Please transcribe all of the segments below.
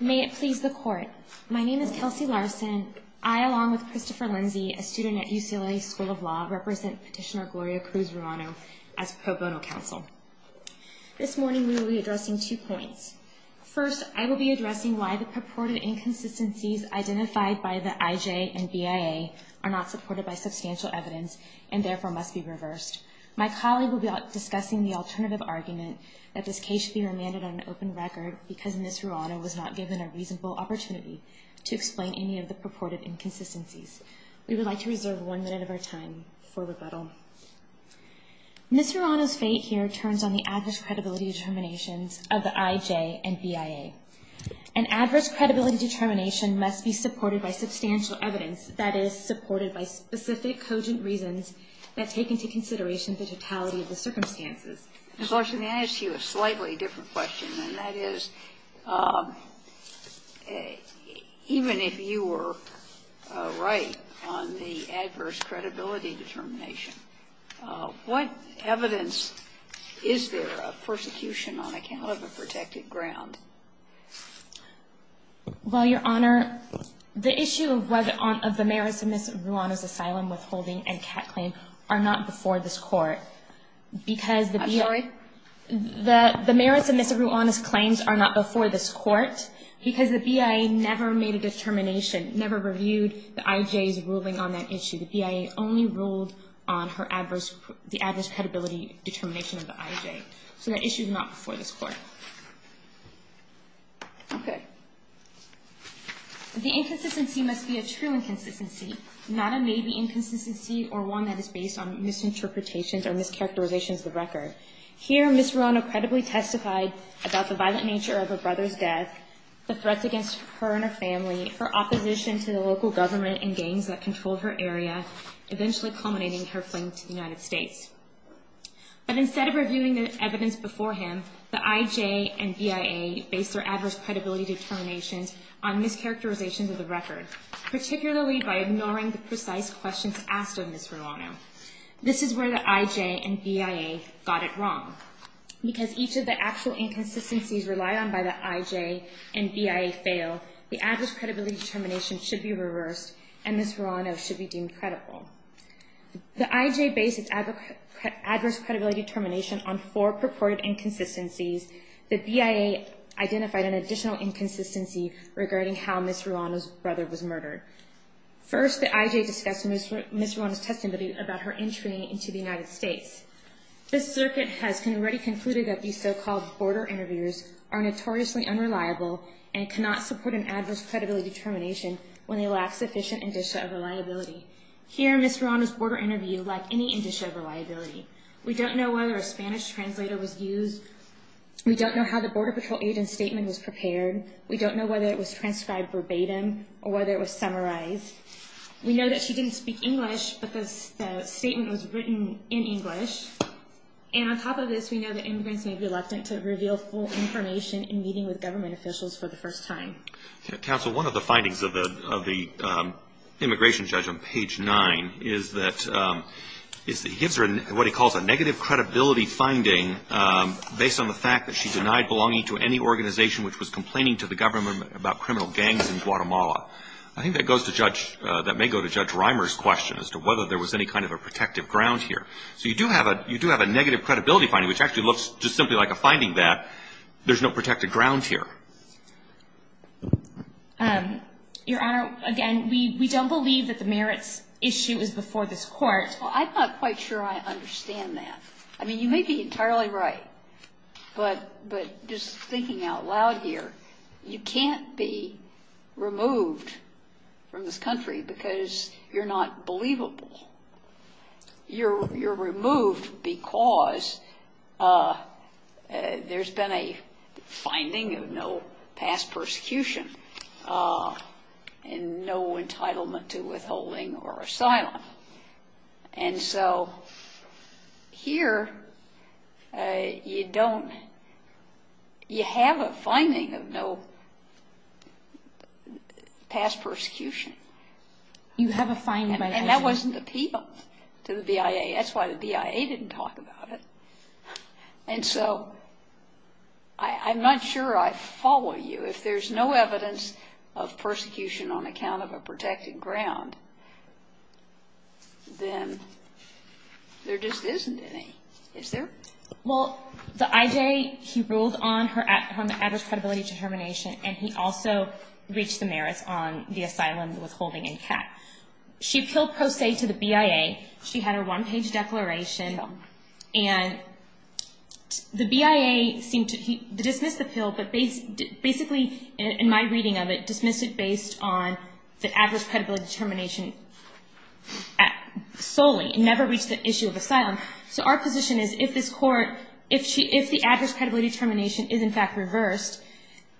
May it please the Court. My name is Kelsey Larson. I, along with Christopher Lindsey, a student at UCLA School of Law, represent Petitioner Gloria Cruz Rauno as pro bono counsel. This morning we will be addressing two points. First, I will be addressing why the purported inconsistencies identified by the IJ and BIA are not supported by substantial evidence and therefore must be reversed. My colleague will be discussing the alternative argument that this case should be remanded on open record because Ms. Rauno was not given a reasonable opportunity to explain any of the purported inconsistencies. We would like to reserve one minute of our time for rebuttal. Ms. Rauno's fate here turns on the adverse credibility determinations of the IJ and BIA. An adverse credibility determination must be supported by substantial evidence, that is, supported by specific cogent reasons that take into consideration the totality of the circumstances. Ms. Larson, may I ask you a slightly different question? And that is, even if you were right on the adverse credibility determination, what evidence is there of persecution on account of a protected ground? Well, Your Honor, the issue of the merits of Ms. Rauno's asylum withholding and CAT claim are not before this Court. I'm sorry? The merits of Ms. Rauno's claims are not before this Court because the BIA never made a determination, never reviewed the IJ's ruling on that issue. The BIA only ruled on the adverse credibility determination of the IJ. So the issue is not before this Court. Okay. The inconsistency must be a true inconsistency, not a maybe inconsistency or one that is based on misinterpretations or mischaracterizations of the record. Here, Ms. Rauno credibly testified about the violent nature of her brother's death, the threats against her and her family, her opposition to the local government and gangs that controlled her area, eventually culminating in her fleeing to the United States. But instead of reviewing the evidence before him, the IJ and BIA based their adverse credibility determinations on mischaracterizations of the record, particularly by ignoring the precise questions asked of Ms. Rauno. This is where the IJ and BIA got it wrong. Because each of the actual inconsistencies relied on by the IJ and BIA fail, the adverse credibility determination should be reversed and Ms. Rauno should be deemed credible. The IJ based its adverse credibility determination on four purported inconsistencies. The BIA identified an additional inconsistency regarding how Ms. Rauno's brother was murdered. First, the IJ discussed Ms. Rauno's testimony about her entry into the United States. The circuit has already concluded that these so-called border interviewers are notoriously unreliable and cannot support an adverse credibility determination when they lack sufficient indicia of reliability. Here, Ms. Rauno's border interview lacked any indicia of reliability. We don't know whether a Spanish translator was used. We don't know how the Border Patrol agent's statement was prepared. We don't know whether it was transcribed verbatim or whether it was summarized. We know that she didn't speak English, but the statement was written in English. And on top of this, we know that immigrants may be reluctant to reveal full information in meeting with government officials for the first time. Counsel, one of the findings of the immigration judge on page nine is that he gives her what he calls a negative credibility finding based on the fact that she denied belonging to any organization which was complaining to the government about criminal gangs in Guatemala. I think that may go to Judge Reimer's question as to whether there was any kind of a protective ground here. So you do have a negative credibility finding, which actually looks just simply like a finding that there's no protective ground here. Your Honor, again, we don't believe that the merits issue is before this Court. Well, I'm not quite sure I understand that. I mean, you may be entirely right, but just thinking out loud here, you can't be removed from this country because you're not believable. You're removed because there's been a finding of no past persecution and no entitlement to withholding or asylum. And so here, you don't – you have a finding of no past persecution. You have a finding. And that wasn't appealed to the BIA. That's why the BIA didn't talk about it. And so I'm not sure I follow you. If there's no evidence of persecution on account of a protective ground, then there just isn't any, is there? Well, the IJ, he ruled on the adverse credibility determination, and he also reached the merits on the asylum withholding and CAT. She appealed pro se to the BIA. She had her one-page declaration. And the BIA seemed to dismiss the appeal, but basically, in my reading of it, dismissed it based on the adverse credibility determination solely. It never reached the issue of asylum. So our position is if this Court – if the adverse credibility determination is, in fact, reversed,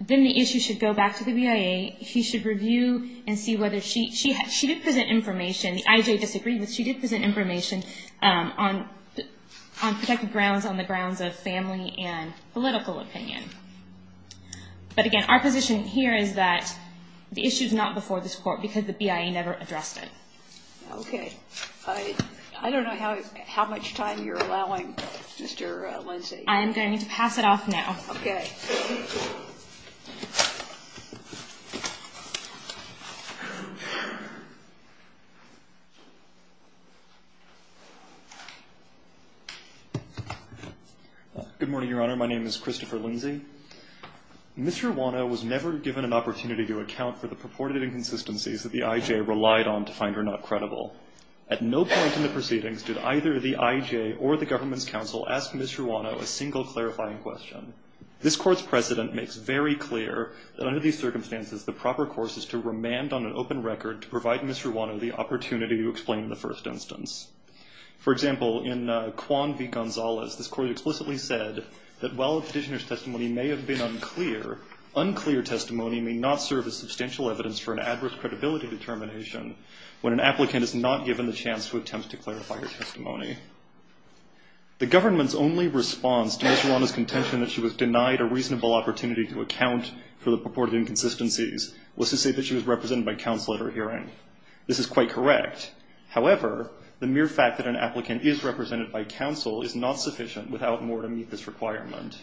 then the issue should go back to the BIA. He should review and see whether she – she did present information. The IJ disagreed, but she did present information on protective grounds, on the grounds of family and political opinion. But again, our position here is that the issue is not before this Court because the BIA never addressed it. Okay. I don't know how much time you're allowing, Mr. Lindsey. I'm going to pass it off now. Okay. Good morning, Your Honor. My name is Christopher Lindsey. Ms. Ruano was never given an opportunity to account for the purported inconsistencies that the IJ relied on to find her not credible. At no point in the proceedings did either the IJ or the government's counsel ask Ms. Ruano a single clarifying question. This Court's precedent makes very clear that under these circumstances, the proper course is to remand on an open record to provide Ms. Ruano the opportunity to explain the first instance. For example, in Quan v. Gonzalez, this Court explicitly said that while the petitioner's testimony may have been unclear, unclear testimony may not serve as substantial evidence for an adverse credibility determination when an applicant is not given the chance to attempt to clarify her testimony. The government's only response to Ms. Ruano's contention that she was denied a reasonable opportunity to account for the purported inconsistencies was to say that she was represented by counsel at her hearing. This is quite correct. However, the mere fact that an applicant is represented by counsel is not sufficient without more to meet this requirement.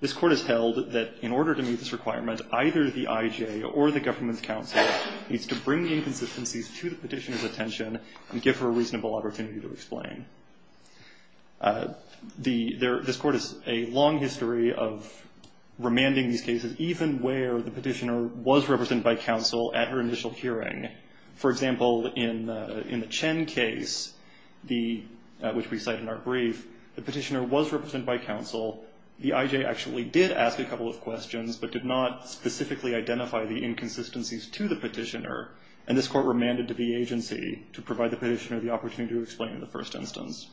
This Court has held that in order to meet this requirement, either the IJ or the government's counsel needs to bring the inconsistencies to the petitioner's attention and give her a reasonable opportunity to explain. This Court has a long history of remanding these cases, even where the petitioner was represented by counsel at her initial hearing. For example, in the Chen case, which we cite in our brief, the petitioner was represented by counsel. The IJ actually did ask a couple of questions but did not specifically identify the inconsistencies to the petitioner. And this Court remanded to the agency to provide the petitioner the opportunity to explain the first instance.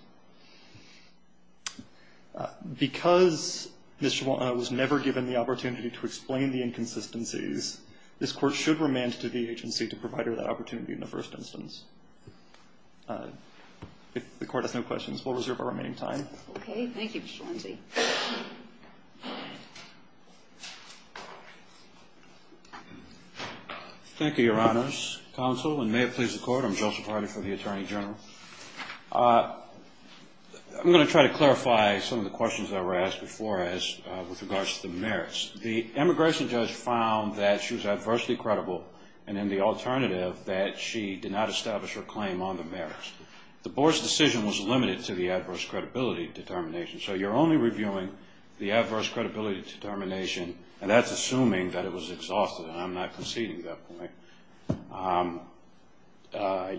Because Ms. Ruano was never given the opportunity to explain the inconsistencies, this Court should remand to the agency to provide her that opportunity in the first instance. If the Court has no questions, we'll reserve our remaining time. Okay. Thank you, Mr. Lindsey. Thank you, Your Honors. Counsel, and may it please the Court, I'm Joseph Hardy from the Attorney General. I'm going to try to clarify some of the questions that were asked before with regards to the merits. The immigration judge found that she was adversely credible, and in the alternative, that she did not establish her claim on the merits. The Board's decision was limited to the adverse credibility determination, so you're only reviewing the adverse credibility determination, and that's assuming that it was exhausted, and I'm not conceding that point.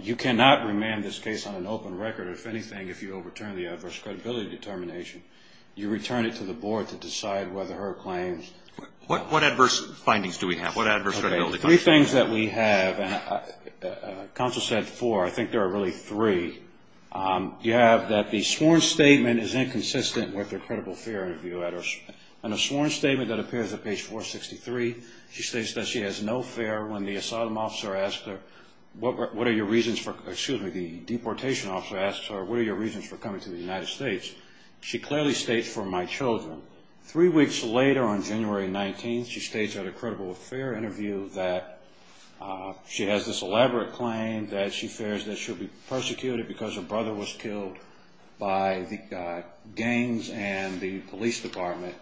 You cannot remand this case on an open record, if anything, if you overturn the adverse credibility determination. You return it to the Board to decide whether her claims… What adverse findings do we have? What adverse credibility… Okay, three things that we have, and Counsel said four, I think there are really three. You have that the sworn statement is inconsistent with her credible fear interview letters, and a sworn statement that appears at page 463, she states that she has no fear when the asylum officer asks her, what are your reasons for, excuse me, the deportation officer asks her, what are your reasons for coming to the United States? She clearly states, for my children. Three weeks later, on January 19th, she states at a credible fear interview that she has this elaborate claim that she fears that she'll be persecuted because her brother was killed by the gangs and the police department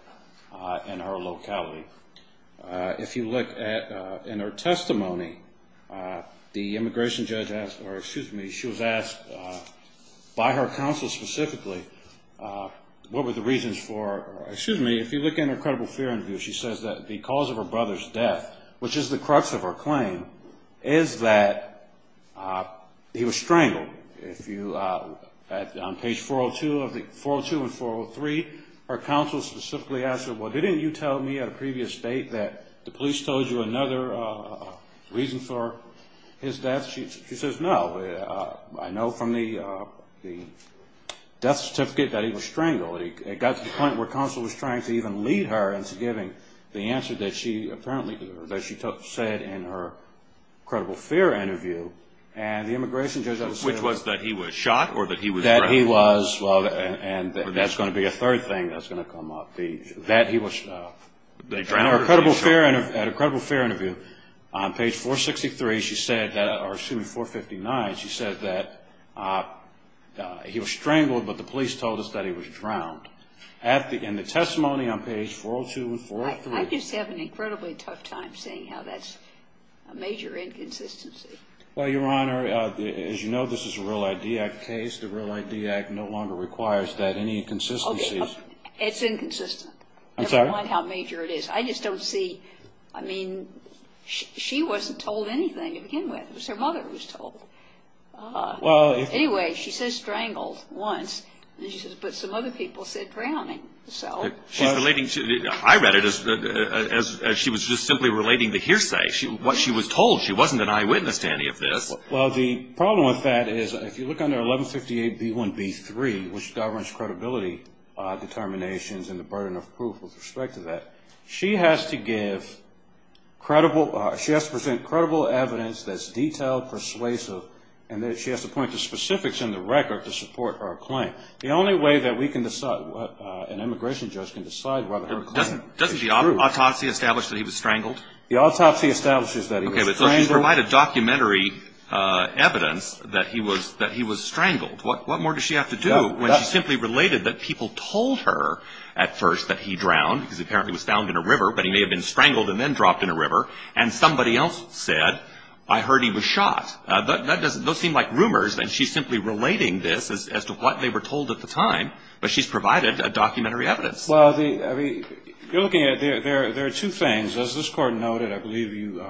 in her locality. If you look in her testimony, the immigration judge asked, or excuse me, she was asked by her counsel specifically, what were the reasons for, excuse me, if you look in her credible fear interview, she says that the cause of her brother's death, which is the crux of her claim, is that he was strangled. On page 402 and 403, her counsel specifically asked her, well, didn't you tell me at a previous date that the police told you another reason for his death? She says, no, I know from the death certificate that he was strangled. It got to the point where counsel was trying to even lead her into giving the answer that she apparently, that she said in her credible fear interview. Which was that he was shot or that he was drowned? That he was, well, and that's going to be a third thing that's going to come up. That he was, at her credible fear interview, on page 463, she said, or excuse me, 459, she said that he was strangled, but the police told us that he was drowned. In the testimony on page 402 and 403. I just have an incredibly tough time saying how that's a major inconsistency. Well, Your Honor, as you know, this is a Real ID Act case. The Real ID Act no longer requires that, any inconsistencies. It's inconsistent. I'm sorry? Never mind how major it is. I just don't see, I mean, she wasn't told anything to begin with. It was her mother who was told. Well. Anyway, she says strangled once. And she says, but some other people said drowning, so. She's relating to, I read it as she was just simply relating the hearsay. What she was told, she wasn't an eyewitness to any of this. Well, the problem with that is, if you look under 1158B1B3, which governs credibility determinations and the burden of proof with respect to that, she has to give credible, she has to present credible evidence that's detailed, persuasive, and then she has to point to specifics in the record to support her claim. The only way that we can decide, an immigration judge can decide whether her claim is true. Doesn't the autopsy establish that he was strangled? The autopsy establishes that he was strangled. Okay, but so she's provided documentary evidence that he was strangled. What more does she have to do when she simply related that people told her at first that he drowned, because apparently he was found in a river, but he may have been strangled and then dropped in a river, and somebody else said, I heard he was shot. Those seem like rumors, and she's simply relating this as to what they were told at the time, but she's provided a documentary evidence. Well, I mean, you're looking at, there are two things. As this Court noted, I believe you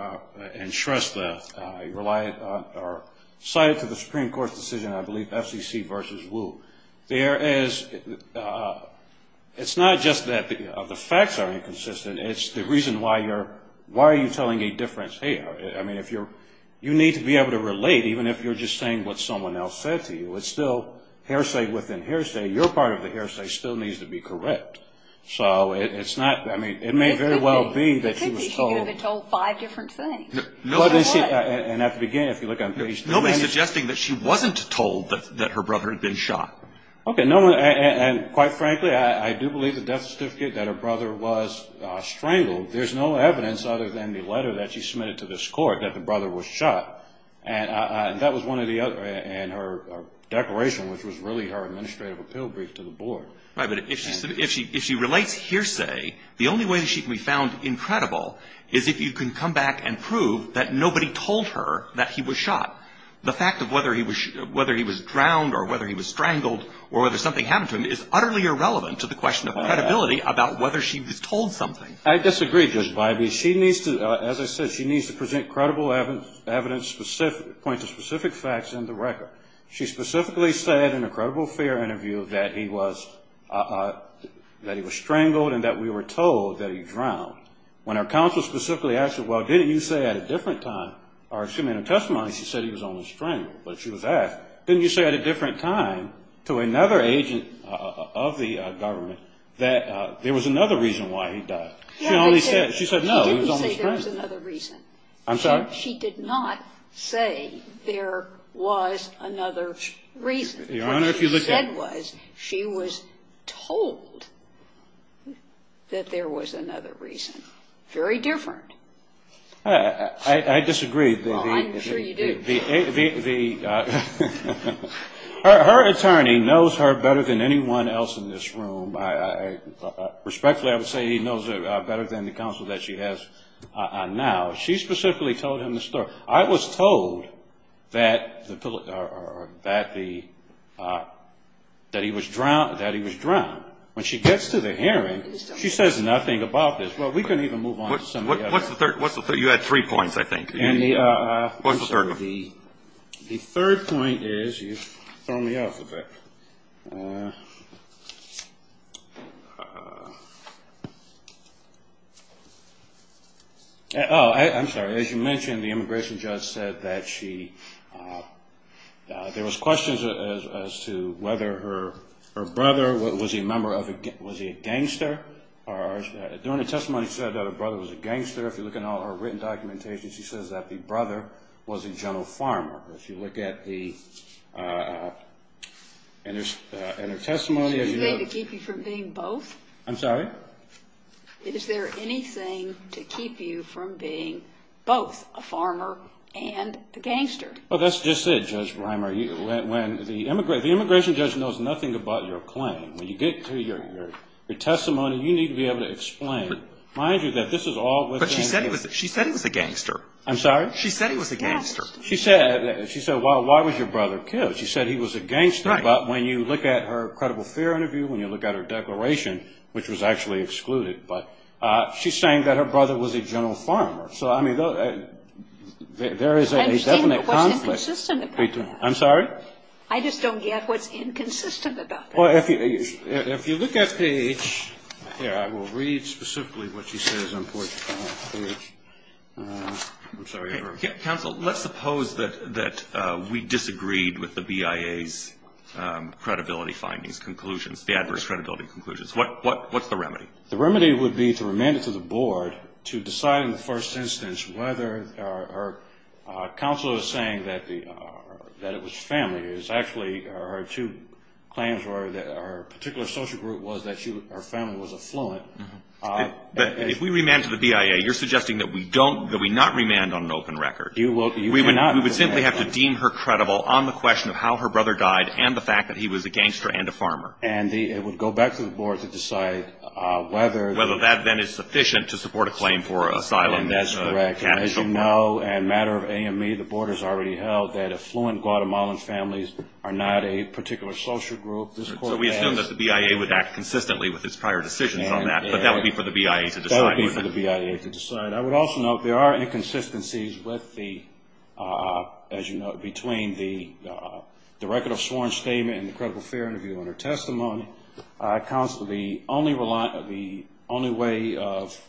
entrust the, you relied on, or cited to the Supreme Court's decision, I believe, FCC v. Wu. There is, it's not just that the facts are inconsistent. It's the reason why you're, why are you telling a difference? Hey, I mean, if you're, you need to be able to relate, even if you're just saying what someone else said to you. It's still hearsay within hearsay. Your part of the hearsay still needs to be correct. So it's not, I mean, it may very well be that she was told. It could be she could have been told five different things. And at the beginning, if you look on page three. Nobody's suggesting that she wasn't told that her brother had been shot. Okay, no one, and quite frankly, I do believe the death certificate that her brother was strangled. There's no evidence other than the letter that she submitted to this Court that the brother was shot. And that was one of the other, and her declaration, which was really her administrative appeal brief to the Board. Right, but if she relates hearsay, the only way that she can be found incredible is if you can come back and prove that nobody told her that he was shot. The fact of whether he was drowned or whether he was strangled or whether something happened to him is utterly irrelevant to the question of credibility about whether she was told something. I disagree, Judge Bybee. She needs to, as I said, she needs to present credible evidence, point to specific facts in the record. She specifically said in a credible fair interview that he was strangled and that we were told that he drowned. When our counsel specifically asked her, well, didn't you say at a different time, or excuse me, in her testimony she said he was only strangled. But she was asked, didn't you say at a different time to another agent of the government that there was another reason why he died? She only said, she said no, he was only strangled. She didn't say there was another reason. I'm sorry? She did not say there was another reason. Your Honor, if you look at it. What she said was she was told that there was another reason. Very different. I disagree. Well, I'm sure you do. Her attorney knows her better than anyone else in this room. Respectfully, I would say he knows her better than the counsel that she has now. She specifically told him the story. I was told that the, that he was drowned. When she gets to the hearing, she says nothing about this. Well, we can even move on to some of the other. What's the third? You had three points, I think. What's the third one? The third point is, you've thrown me off a bit. I'm sorry, as you mentioned, the immigration judge said that she, there was questions as to whether her brother was a member of, was he a gangster? During the testimony, she said that her brother was a gangster. If you look at all her written documentation, she says that the brother was a general farmer. If you look at the, in her testimony. Is there anything to keep you from being both? I'm sorry? Is there anything to keep you from being both a farmer and a gangster? Well, that's just it, Judge Reimer. When the, the immigration judge knows nothing about your claim. When you get to your testimony, you need to be able to explain. But she said he was a gangster. I'm sorry? She said he was a gangster. She said, she said, well, why was your brother killed? She said he was a gangster. Right. But when you look at her credible fear interview, when you look at her declaration, which was actually excluded, but she's saying that her brother was a general farmer. So, I mean, there is a definite conflict. I just don't get what's inconsistent about that. I'm sorry? I just don't get what's inconsistent about that. Well, if you look at page, here, I will read specifically what she says on page. I'm sorry. Counsel, let's suppose that we disagreed with the BIA's credibility findings, conclusions, the adverse credibility conclusions. What's the remedy? The remedy would be to remand it to the board to decide in the first instance whether Counsel is saying that it was family. It's actually her two claims were that her particular social group was that her family was affluent. But if we remanded to the BIA, you're suggesting that we don't, that we not remand on an open record. We would simply have to deem her credible on the question of how her brother died and the fact that he was a gangster and a farmer. And it would go back to the board to decide whether. Whether that then is sufficient to support a claim for asylum. That's correct. As you know, and matter of AME, the board has already held that affluent Guatemalan families are not a particular social group. So we assume that the BIA would act consistently with its prior decisions on that, but that would be for the BIA to decide. That would be for the BIA to decide. I would also note there are inconsistencies with the, as you know, between the record of sworn statement and the credible fair interview in her testimony. The only way of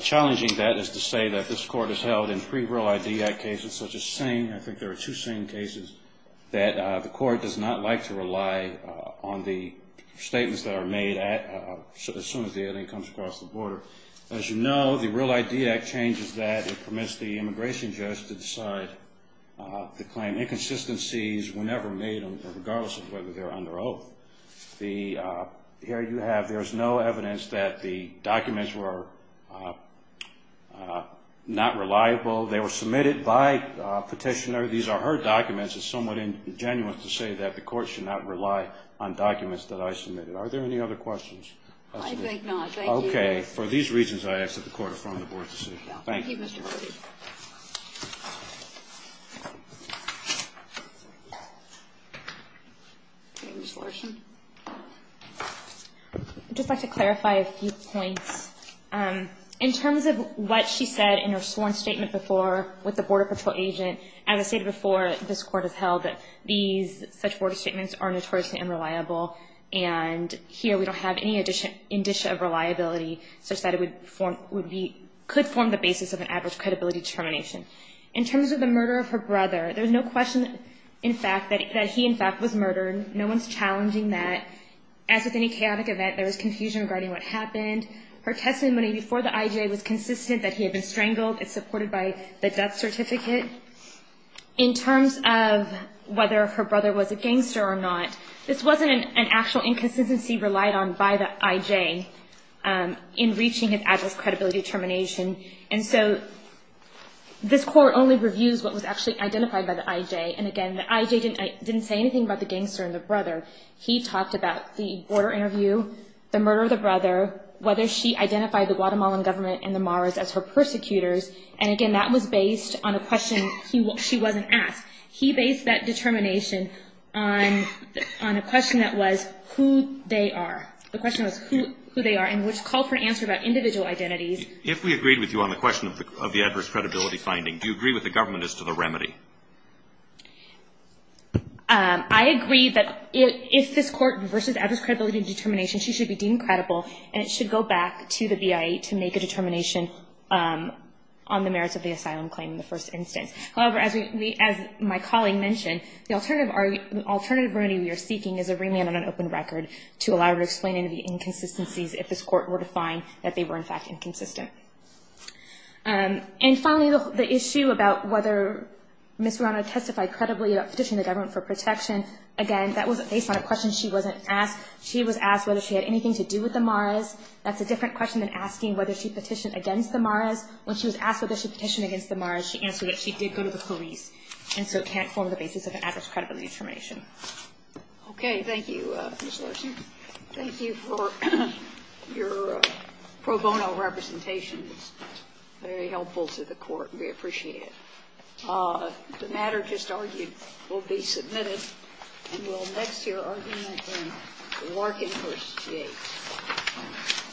challenging that is to say that this court has held in three Real ID Act cases such as Singh. I think there are two Singh cases that the court does not like to rely on the statements that are made as soon as the evidence comes across the border. As you know, the Real ID Act changes that. It permits the immigration judge to decide the claim. The inconsistencies were never made, regardless of whether they're under oath. Here you have, there's no evidence that the documents were not reliable. They were submitted by Petitioner. These are her documents. It's somewhat ingenuous to say that the court should not rely on documents that I submitted. Are there any other questions? I think not. Okay. Thank you. Thank you, Mr. Hardy. Ms. Larson. I'd just like to clarify a few points. In terms of what she said in her sworn statement before with the Border Patrol agent, as I stated before, this court has held that these such border statements are notoriously unreliable, and here we don't have any indicia of reliability such that it could form the basis of an adverse credibility determination. In terms of the murder of her brother, there's no question, in fact, that he, in fact, was murdered. No one's challenging that. As with any chaotic event, there was confusion regarding what happened. Her testimony before the IJA was consistent that he had been strangled. It's supported by the death certificate. In terms of whether her brother was a gangster or not, this wasn't an actual inconsistency relied on by the IJA in reaching an adverse credibility determination, and so this court only reviews what was actually identified by the IJA, and, again, the IJA didn't say anything about the gangster and the brother. He talked about the border interview, the murder of the brother, whether she identified the Guatemalan government and the Maras as her persecutors, and, again, that was based on a question she wasn't asked. He based that determination on a question that was who they are. The question was who they are, and which called for an answer about individual identities. If we agreed with you on the question of the adverse credibility finding, do you agree with the government as to the remedy? I agree that if this court versus adverse credibility determination, she should be deemed credible, and it should go back to the BIA to make a determination on the merits of the asylum claim in the first instance. However, as my colleague mentioned, the alternative remedy we are seeking is a remand on an open record to allow her to explain any of the inconsistencies if this court were to find that they were, in fact, inconsistent. And, finally, the issue about whether Ms. Morano testified credibly about petitioning the government for protection, again, that was based on a question she wasn't asked. She was asked whether she had anything to do with the Maras. That's a different question than asking whether she petitioned against the Maras. When she was asked whether she petitioned against the Maras, she answered that she did go to the police, and so can't form the basis of an adverse credibility determination. Okay. Thank you, Ms. Larson. Thank you for your pro bono representations. Very helpful to the Court. We appreciate it. The matter just argued will be submitted, and we'll next hear argument in Larkin v. Gates.